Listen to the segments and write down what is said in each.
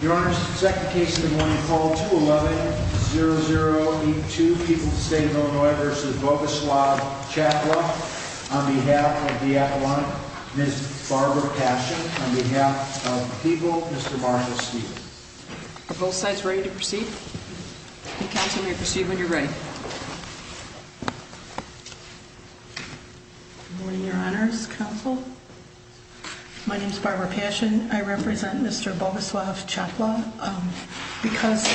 Your Honor, second case of the morning, call 211-0082, People of the State of Illinois v. Bogoslav Czapla, on behalf of the Appalachian, Ms. Barbara Passion, on behalf of the People, Mr. Marshall Stevens. Are both sides ready to proceed? Counsel, you may proceed when you're ready. Good morning, Your Honors, Counsel. My name's Barbara Passion. I represent Mr. Bogoslav Czapla because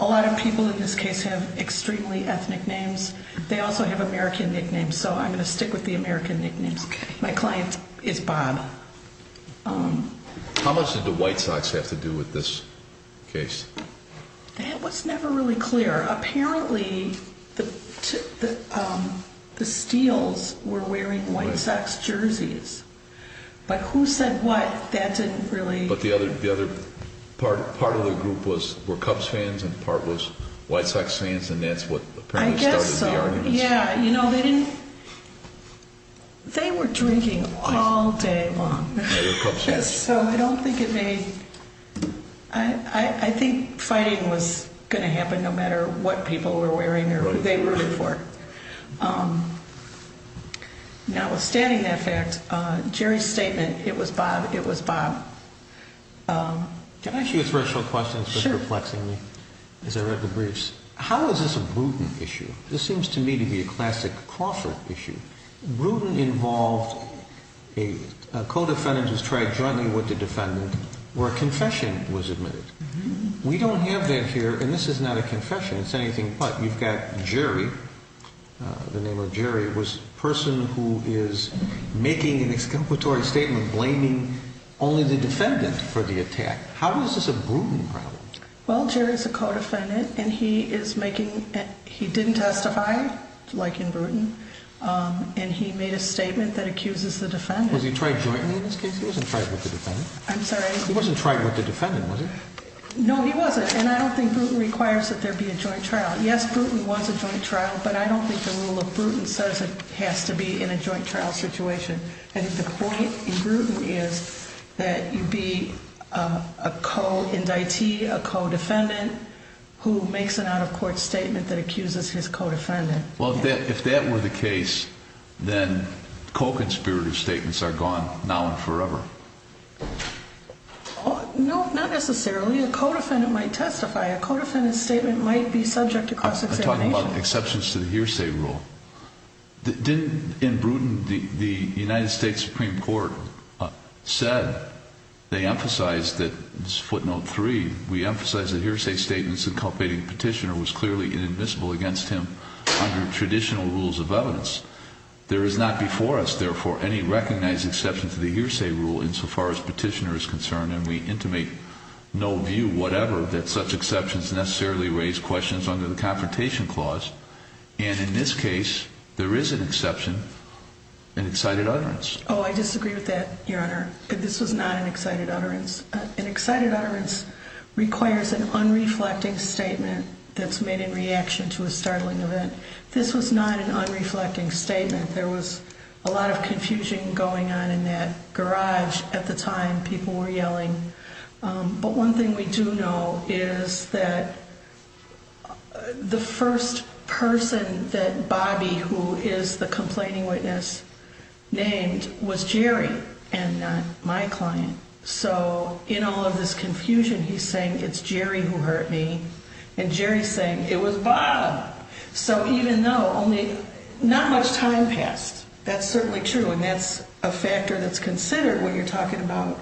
a lot of people in this case have extremely ethnic names. They also have American nicknames, so I'm going to stick with the American nicknames. My client is Bob. How much did the white socks have to do with this case? That was never really clear. Apparently, the Steeles were wearing white socks jerseys. But who said what, that didn't really... But the other part of the group were Cubs fans and part was white socks fans, and that's what apparently started the argument. I guess so, yeah. You know, they didn't... They were drinking all day long. They were Cubs fans. Yes, so I don't think it made... I think fighting was going to happen no matter what people were wearing or who they rooted for. Now, withstanding that fact, Jerry's statement, it was Bob, it was Bob. Can I ask you a threshold question? Sure. Reflexingly, as I read the briefs. How is this a Bruton issue? This seems to me to be a classic Crawford issue. Bruton involved a co-defendant who's tried jointly with the defendant where a confession was admitted. We don't have that here, and this is not a confession. It's anything but. You've got Jerry, the name of Jerry, was a person who is making an exculpatory statement blaming only the defendant for the attack. How is this a Bruton problem? Well, Jerry's a co-defendant, and he is making... He didn't testify like in Bruton, and he made a statement that accuses the defendant. Was he tried jointly in this case? He wasn't tried with the defendant. I'm sorry? He wasn't tried with the defendant, was he? No, he wasn't, and I don't think Bruton requires that there be a joint trial. Yes, Bruton was a joint trial, but I don't think the rule of Bruton says it has to be in a joint trial situation. I think the point in Bruton is that you'd be a co-indictee, a co-defendant who makes an out-of-court statement that accuses his co-defendant. Well, if that were the case, then co-conspirator statements are gone now and forever. No, not necessarily. A co-defendant might testify. A co-defendant's statement might be subject to cross-examination. I'm talking about exceptions to the hearsay rule. In Bruton, the United States Supreme Court said they emphasized that, footnote 3, we emphasize that hearsay statements inculcating petitioner was clearly inadmissible against him under traditional rules of evidence. There is not before us, therefore, any recognized exception to the hearsay rule insofar as petitioner is concerned, and we intimate no view whatever that such exceptions necessarily raise questions under the Confrontation Clause. And in this case, there is an exception, an excited utterance. Oh, I disagree with that, Your Honor. This was not an excited utterance. An excited utterance requires an unreflecting statement that's made in reaction to a startling event. This was not an unreflecting statement. There was a lot of confusion going on in that garage at the time. People were yelling. But one thing we do know is that the first person that Bobby, who is the complaining witness, named was Jerry and not my client. So in all of this confusion, he's saying it's Jerry who hurt me, and Jerry's saying it was Bob. So even though only not much time passed, that's certainly true, and that's a factor that's considered when you're talking about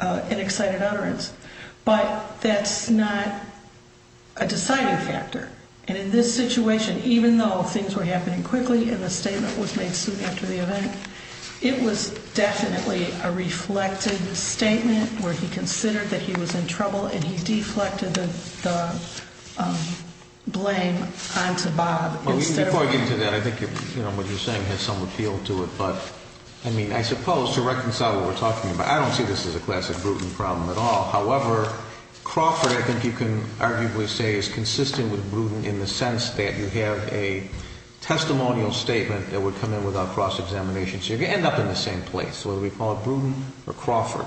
an excited utterance. But that's not a deciding factor. And in this situation, even though things were happening quickly and the statement was made soon after the event, it was definitely a reflected statement where he considered that he was in trouble and he deflected the blame onto Bob. Before I get into that, I think what you're saying has some appeal to it. But I mean, I suppose to reconcile what we're talking about, I don't see this as a classic Bruton problem at all. However, Crawford, I think you can arguably say, is consistent with Bruton in the sense that you have a testimonial statement that would come in without cross-examination. So you end up in the same place, whether we call it Bruton or Crawford.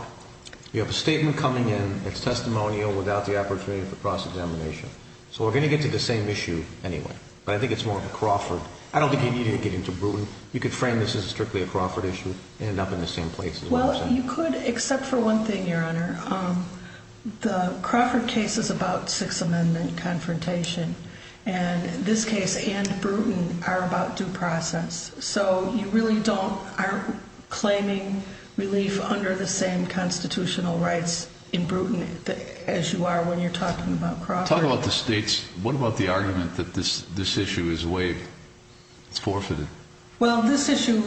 You have a statement coming in that's testimonial without the opportunity for cross-examination. So we're going to get to the same issue anyway, but I think it's more of a Crawford. I don't think you need to get into Bruton. You could frame this as strictly a Crawford issue and end up in the same place. Well, you could except for one thing, Your Honor. The Crawford case is about Sixth Amendment confrontation, and this case and Bruton are about due process. So you really aren't claiming relief under the same constitutional rights in Bruton as you are when you're talking about Crawford. Talk about the states. What about the argument that this issue is waived? It's forfeited. Well, this issue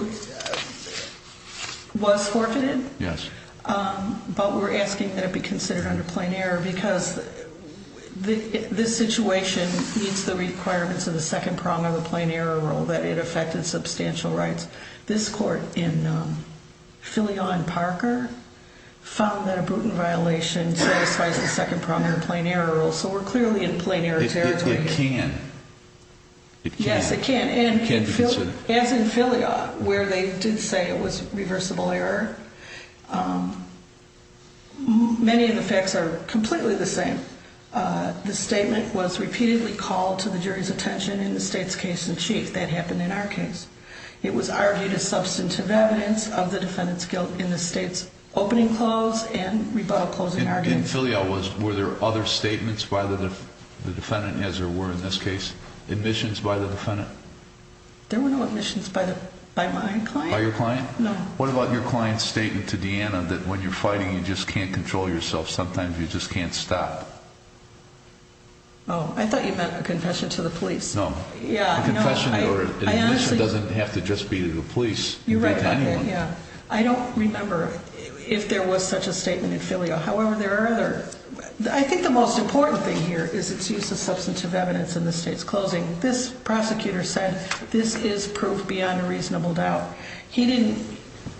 was forfeited. Yes. But we're asking that it be considered under plain error because this situation meets the requirements of the second prong of a plain error rule that it affected substantial rights. This court in Filiaw and Parker found that a Bruton violation satisfies the second prong of a plain error rule, so we're clearly in plain error territory. It can. Yes, it can. It can be considered. As in Filiaw, where they did say it was reversible error, many of the facts are completely the same. The statement was repeatedly called to the jury's attention in the state's case in chief. That happened in our case. It was argued as substantive evidence of the defendant's guilt in the state's opening clause and rebuttal clause in our case. In Filiaw, were there other statements by the defendant, as there were in this case? Admissions by the defendant? There were no admissions by my client. By your client? No. What about your client's statement to Deanna that when you're fighting, you just can't control yourself? Sometimes you just can't stop. Oh, I thought you meant a confession to the police. No. Yeah. A confession doesn't have to just be to the police. You're right about that, yeah. I don't remember if there was such a statement in Filiaw. However, there are other. I think the most important thing here is its use of substantive evidence in the state's closing. This prosecutor said this is proof beyond a reasonable doubt. He didn't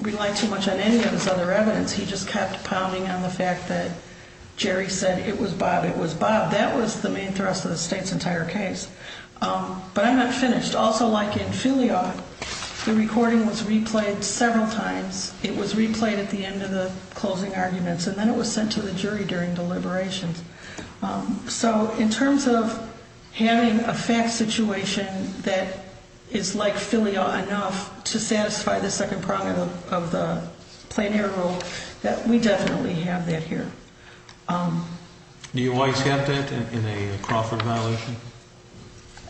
rely too much on any of his other evidence. He just kept pounding on the fact that Jerry said it was Bob, it was Bob. That was the main thrust of the state's entire case. But I'm not finished. Also, like in Filiaw, the recording was replayed several times. It was replayed at the end of the closing arguments, and then it was sent to the jury during deliberations. So in terms of having a fact situation that is like Filiaw enough to satisfy the second prong of the plein air rule, we definitely have that here. Do you always have that in a Crawford violation?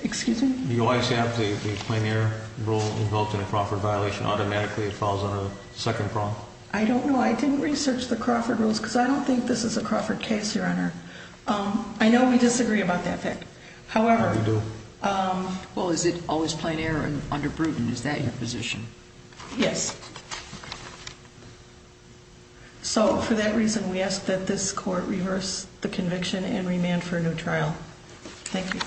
Excuse me? Do you always have the plein air rule invoked in a Crawford violation? Automatically it falls under the second prong? I don't know. I didn't research the Crawford rules because I don't think this is a Crawford case, Your Honor. I know we disagree about that fact. However. We do. Well, is it always plein air and under Bruton? Is that your position? Yes. So for that reason, we ask that this court reverse the conviction and remand for a new trial. Thank you.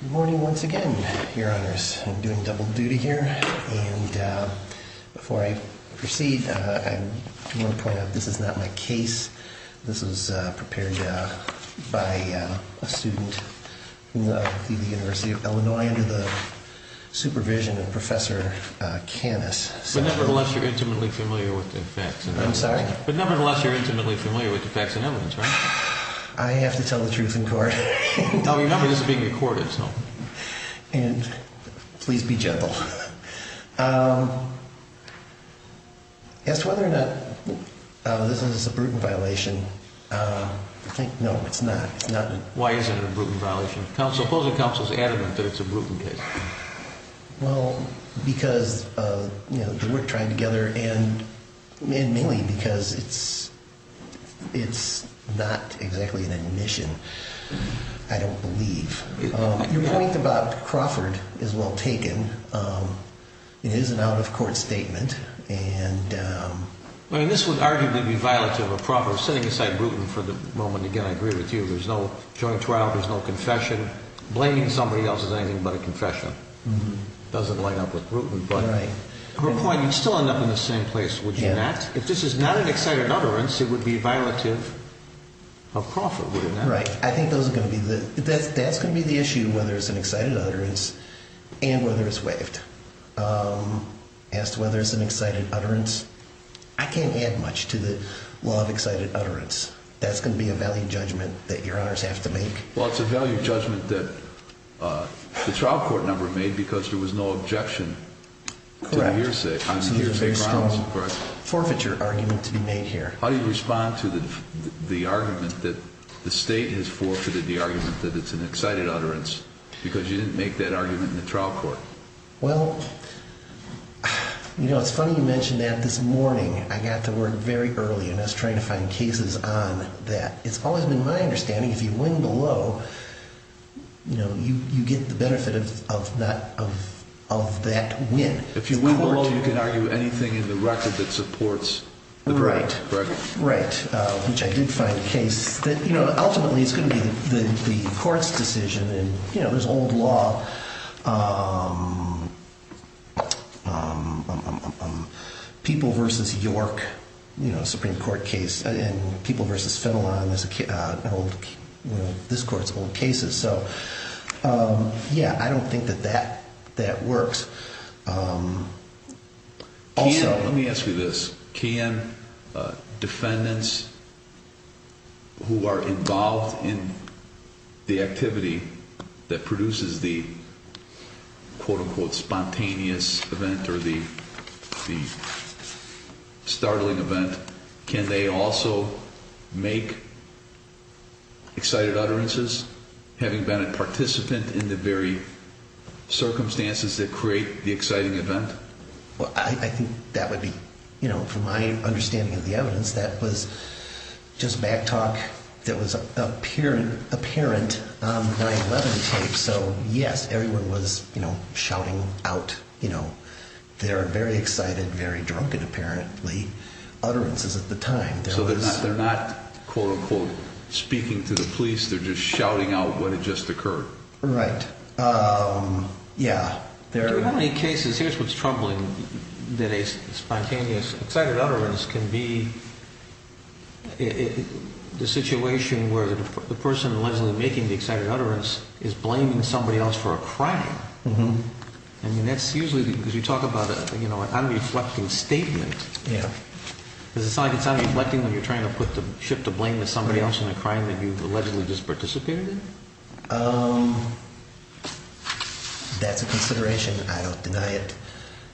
Good morning once again, Your Honors. I'm doing double duty here. Before I proceed, I want to point out this is not my case. This is prepared by a student from the University of Illinois under the supervision of Professor Canis. But nevertheless, you're intimately familiar with the facts and evidence. I'm sorry? But nevertheless, you're intimately familiar with the facts and evidence, right? I have to tell the truth in court. This is being recorded. And please be gentle. As to whether or not this is a Bruton violation, no, it's not. Why is it a Bruton violation? Suppose the counsel is adamant that it's a Bruton case. Well, because we're trying together and mainly because it's not exactly an admission. I don't believe. Your point about Crawford is well taken. It is an out-of-court statement. And this would arguably be violative of Crawford sitting aside Bruton for the moment. Again, I agree with you. There's no joint trial. There's no confession. Blaming somebody else is anything but a confession. It doesn't line up with Bruton. But her point, you'd still end up in the same place, would you not? I'm right. I think that's going to be the issue, whether it's an excited utterance and whether it's waived. As to whether it's an excited utterance, I can't add much to the law of excited utterance. That's going to be a value judgment that your honors have to make. Well, it's a value judgment that the trial court number made because there was no objection to the hearsay. There's a very strong forfeiture argument to be made here. How do you respond to the argument that the state has forfeited the argument that it's an excited utterance because you didn't make that argument in the trial court? Well, you know, it's funny you mention that this morning. I got to work very early, and I was trying to find cases on that. It's always been my understanding if you win below, you know, you get the benefit of that win. If you win below, you can argue anything in the record that supports the correct record. Right, which I did find a case that, you know, ultimately it's going to be the court's decision. You know, there's old law. People v. York, you know, Supreme Court case, and People v. Finland, this court's old cases. So, yeah, I don't think that that works. Also, let me ask you this. Can defendants who are involved in the activity that produces the, quote, unquote, spontaneous event or the startling event, can they also make excited utterances having been a participant in the very circumstances that create the exciting event? Well, I think that would be, you know, from my understanding of the evidence, that was just back talk that was apparent on the 9-11 tape. So, yes, everyone was, you know, shouting out, you know, their very excited, very drunken, apparently, utterances at the time. So they're not, quote, unquote, speaking to the police. They're just shouting out what had just occurred. Right. Yeah. There are many cases. Here's what's troubling, that a spontaneous excited utterance can be the situation where the person allegedly making the excited utterance is blaming somebody else for a crime. Mm-hmm. I mean, that's usually, because you talk about, you know, an unreflecting statement. Yeah. Because it's not like it's unreflecting when you're trying to put the, shift the blame to somebody else in a crime that you've allegedly just participated in. That's a consideration. I don't deny it.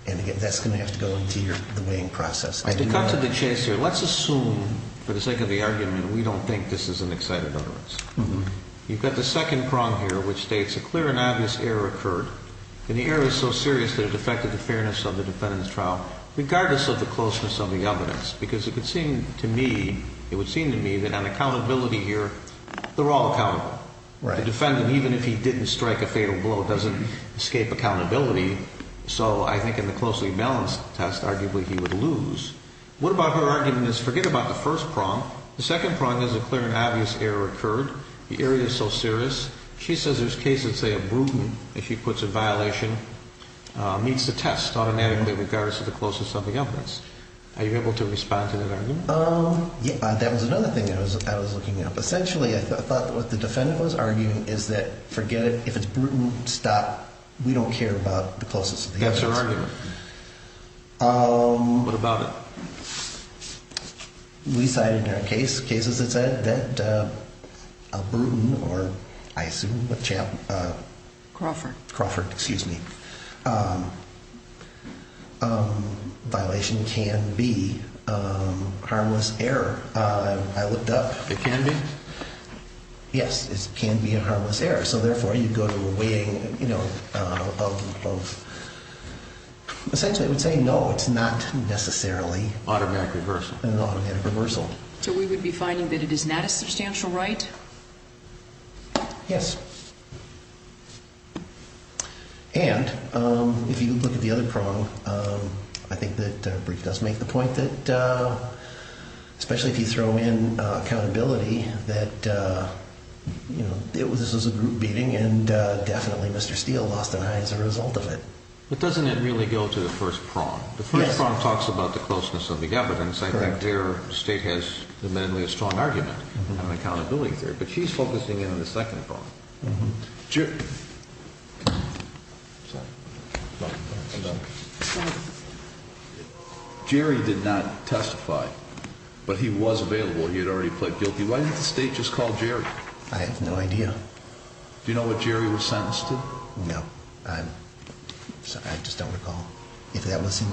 And, again, that's going to have to go into the weighing process. To cut to the chase here, let's assume, for the sake of the argument, we don't think this is an excited utterance. Mm-hmm. You've got the second prong here, which states, a clear and obvious error occurred. And the error is so serious that it affected the fairness of the defendant's trial, regardless of the closeness of the evidence. Because it would seem to me, it would seem to me that on accountability here, they're all accountable. Right. The defendant, even if he didn't strike a fatal blow, doesn't escape accountability. So I think in the closely balanced test, arguably, he would lose. What about her argument is, forget about the first prong. The second prong is, a clear and obvious error occurred. The error is so serious. She says there's cases, say, of brutal, if she puts a violation, meets the test automatically, regardless of the closeness of the evidence. Are you able to respond to that argument? Yeah. That was another thing I was looking at. Essentially, I thought what the defendant was arguing is that, forget it. If it's brutal, stop. We don't care about the closeness of the evidence. That's her argument. What about it? We cited in our case, cases that said that a brutal or, I assume, a champ. Crawford. Crawford, excuse me. Violation can be harmless error. I looked up. It can be? Yes. It can be a harmless error. So, therefore, you go to a weighing of both. Essentially, I would say no, it's not necessarily an automatic reversal. So we would be finding that it is not a substantial right? Yes. And if you look at the other prong, I think that brief does make the point that, especially if you throw in accountability, that this was a group beating and definitely Mr. Steele lost an eye as a result of it. But doesn't it really go to the first prong? Yes. The first prong talks about the closeness of the evidence. Correct. In fact, their state has a strong argument on accountability theory, but she's focusing in on the second prong. Jerry did not testify, but he was available. He had already pled guilty. Why didn't the state just call Jerry? I have no idea. Do you know what Jerry was sentenced to? No. I just don't recall. If that was in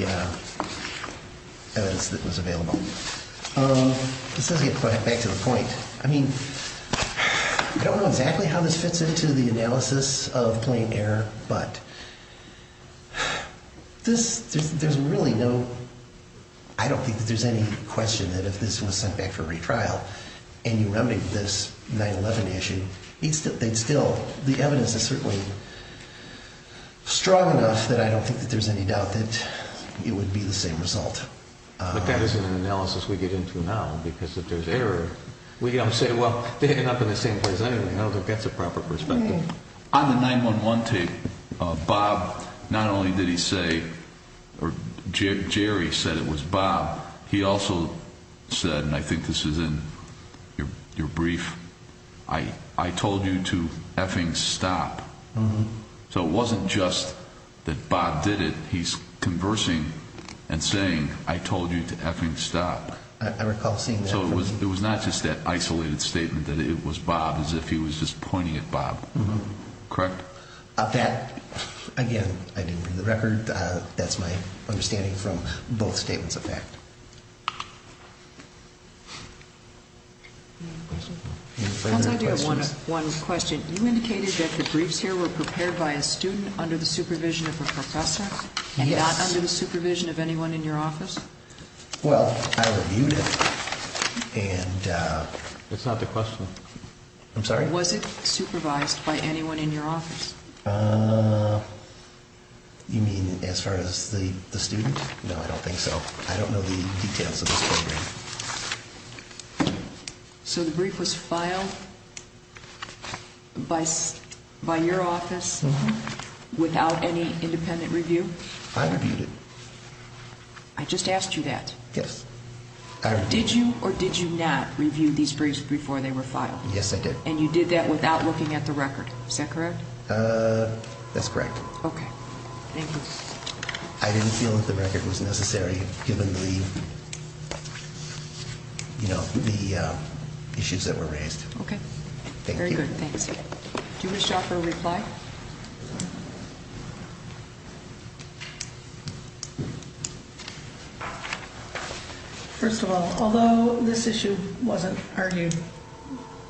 the evidence that was available. This doesn't get back to the point. I mean, I don't know exactly how this fits into the analysis of plain error, but there's really no – I don't think that there's any question that if this was sent back for retrial and you remedied this 9-11 issue, they'd still – the evidence is certainly – strong enough that I don't think that there's any doubt that it would be the same result. But that isn't an analysis we get into now, because if there's error, we don't say, well, they end up in the same place anyway. I don't think that's a proper perspective. On the 9-11 tape, Bob not only did he say – or Jerry said it was Bob. He also said, and I think this is in your brief, I told you to effing stop. So it wasn't just that Bob did it. He's conversing and saying, I told you to effing stop. I recall seeing that. So it was not just that isolated statement that it was Bob, as if he was just pointing at Bob. Correct? That, again, I didn't bring the record. Any further questions? One question. You indicated that the briefs here were prepared by a student under the supervision of a professor? Yes. And not under the supervision of anyone in your office? Well, I reviewed it, and – That's not the question. I'm sorry? Was it supervised by anyone in your office? You mean as far as the student? No, I don't think so. I don't know the details of this program. So the brief was filed by your office without any independent review? I reviewed it. I just asked you that. Yes. Did you or did you not review these briefs before they were filed? Yes, I did. And you did that without looking at the record. Is that correct? That's correct. Okay. Thank you. I didn't feel that the record was necessary given the, you know, the issues that were raised. Okay. Thank you. Very good. Thanks. Do you wish to offer a reply? First of all, although this issue wasn't argued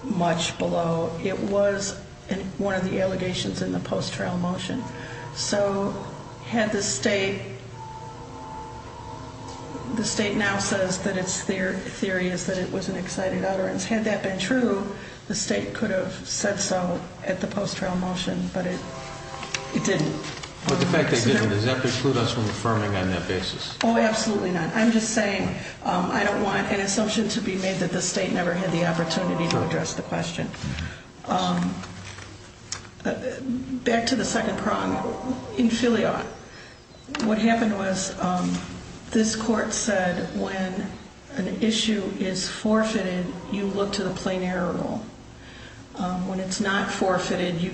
much below, it was one of the allegations in the post-trial motion. So had the state, the state now says that its theory is that it was an excited utterance. Had that been true, the state could have said so at the post-trial motion, but it didn't. But the fact that it didn't, does that preclude us from affirming on that basis? Oh, absolutely not. I'm just saying I don't want an assumption to be made that the state never had the opportunity to address the question. Back to the second problem. In Philly, what happened was this court said when an issue is forfeited, you look to the plain error rule. When it's not forfeited, you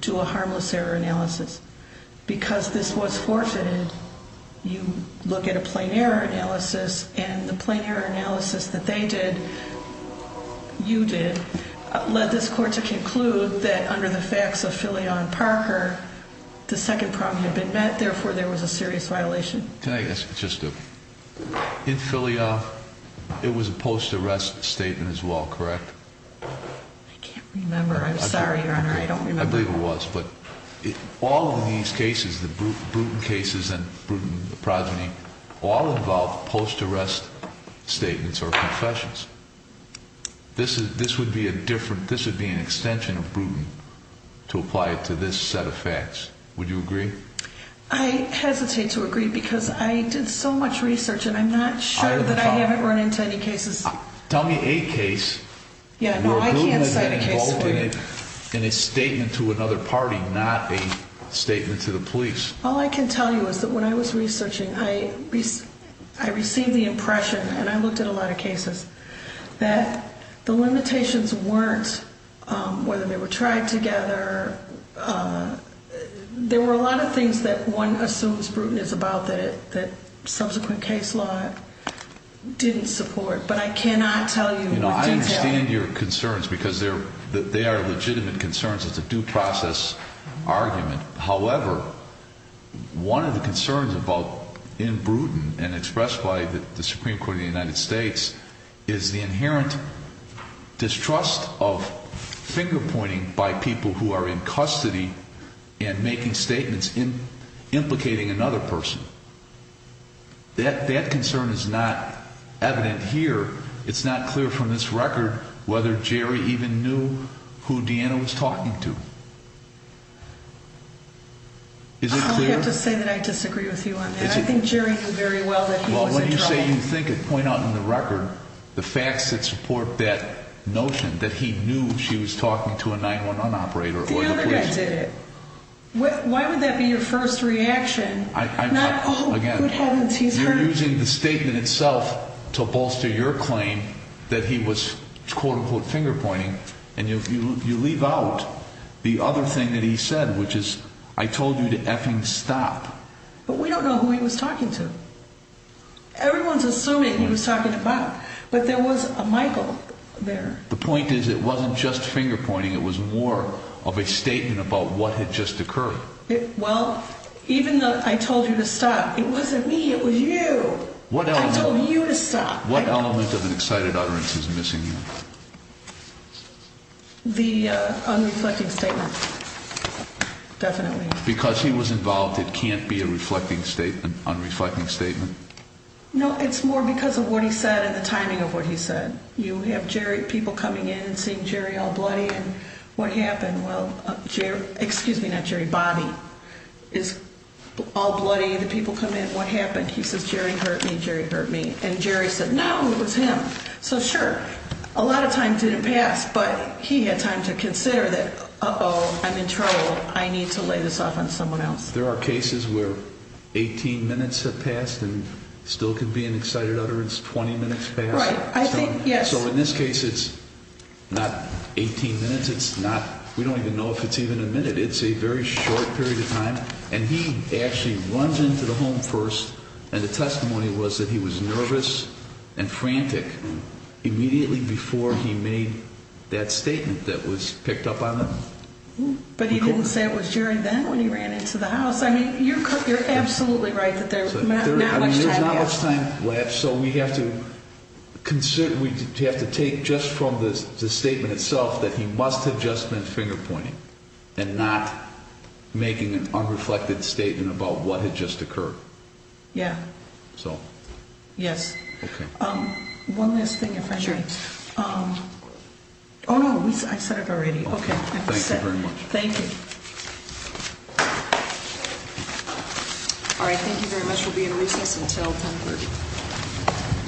do a harmless error analysis. Because this was forfeited, you look at a plain error analysis. And the plain error analysis that they did, you did, led this court to conclude that under the facts of Philly on Parker, the second problem had been met. Therefore, there was a serious violation. In Philly, it was a post-arrest statement as well, correct? I can't remember. I'm sorry, Your Honor. I don't remember. I believe it was. But all of these cases, the Bruton cases and Bruton progeny, all involve post-arrest statements or confessions. This would be a different, this would be an extension of Bruton to apply it to this set of facts. Would you agree? I hesitate to agree because I did so much research and I'm not sure that I haven't run into any cases. Tell me a case where Bruton has been involved in it. It's a statement to another party, not a statement to the police. All I can tell you is that when I was researching, I received the impression, and I looked at a lot of cases, that the limitations weren't whether they were tried together. There were a lot of things that one assumes Bruton is about that subsequent case law didn't support. But I cannot tell you in detail. I understand your concerns because they are legitimate concerns. It's a due process argument. However, one of the concerns about in Bruton and expressed by the Supreme Court of the United States is the inherent distrust of finger-pointing by people who are in custody and making statements implicating another person. That concern is not evident here. It's not clear from this record whether Jerry even knew who Deanna was talking to. Is it clear? I'll have to say that I disagree with you on that. I think Jerry knew very well that he was in trouble. Well, when you say you think it, point out in the record the facts that support that notion, that he knew she was talking to a 9-1-1 operator or the police. The other guy did it. Why would that be your first reaction? Again, you're using the statement itself to bolster your claim. You claim that he was, quote, unquote, finger-pointing. And you leave out the other thing that he said, which is, I told you to effing stop. But we don't know who he was talking to. Everyone's assuming he was talking to Bob. But there was a Michael there. The point is it wasn't just finger-pointing. It was more of a statement about what had just occurred. Well, even though I told you to stop, it wasn't me. It was you. I told you to stop. What element of an excited utterance is missing here? The unreflecting statement. Definitely. Because he was involved, it can't be a reflecting statement, unreflecting statement? No, it's more because of what he said and the timing of what he said. You have people coming in and seeing Jerry all bloody, and what happened? Well, Jerry, excuse me, not Jerry, Bobby, is all bloody. The people come in, what happened? He says, Jerry hurt me, Jerry hurt me. And Jerry said, no, it was him. So, sure, a lot of time didn't pass, but he had time to consider that, uh-oh, I'm in trouble. I need to lay this off on someone else. There are cases where 18 minutes have passed and still could be an excited utterance, 20 minutes passed. Right. I think, yes. So in this case, it's not 18 minutes. It's not, we don't even know if it's even a minute. It's a very short period of time. And he actually runs into the home first, and the testimony was that he was nervous and frantic immediately before he made that statement that was picked up on him. But he didn't say it was Jerry then when he ran into the house. I mean, you're absolutely right that there's not much time left. about what had just occurred. Yeah. So. Yes. Okay. One last thing, if I may. Sure. Oh, no, I said it already. Okay. Thank you very much. Thank you. All right, thank you very much. We'll be in recess until 10.30.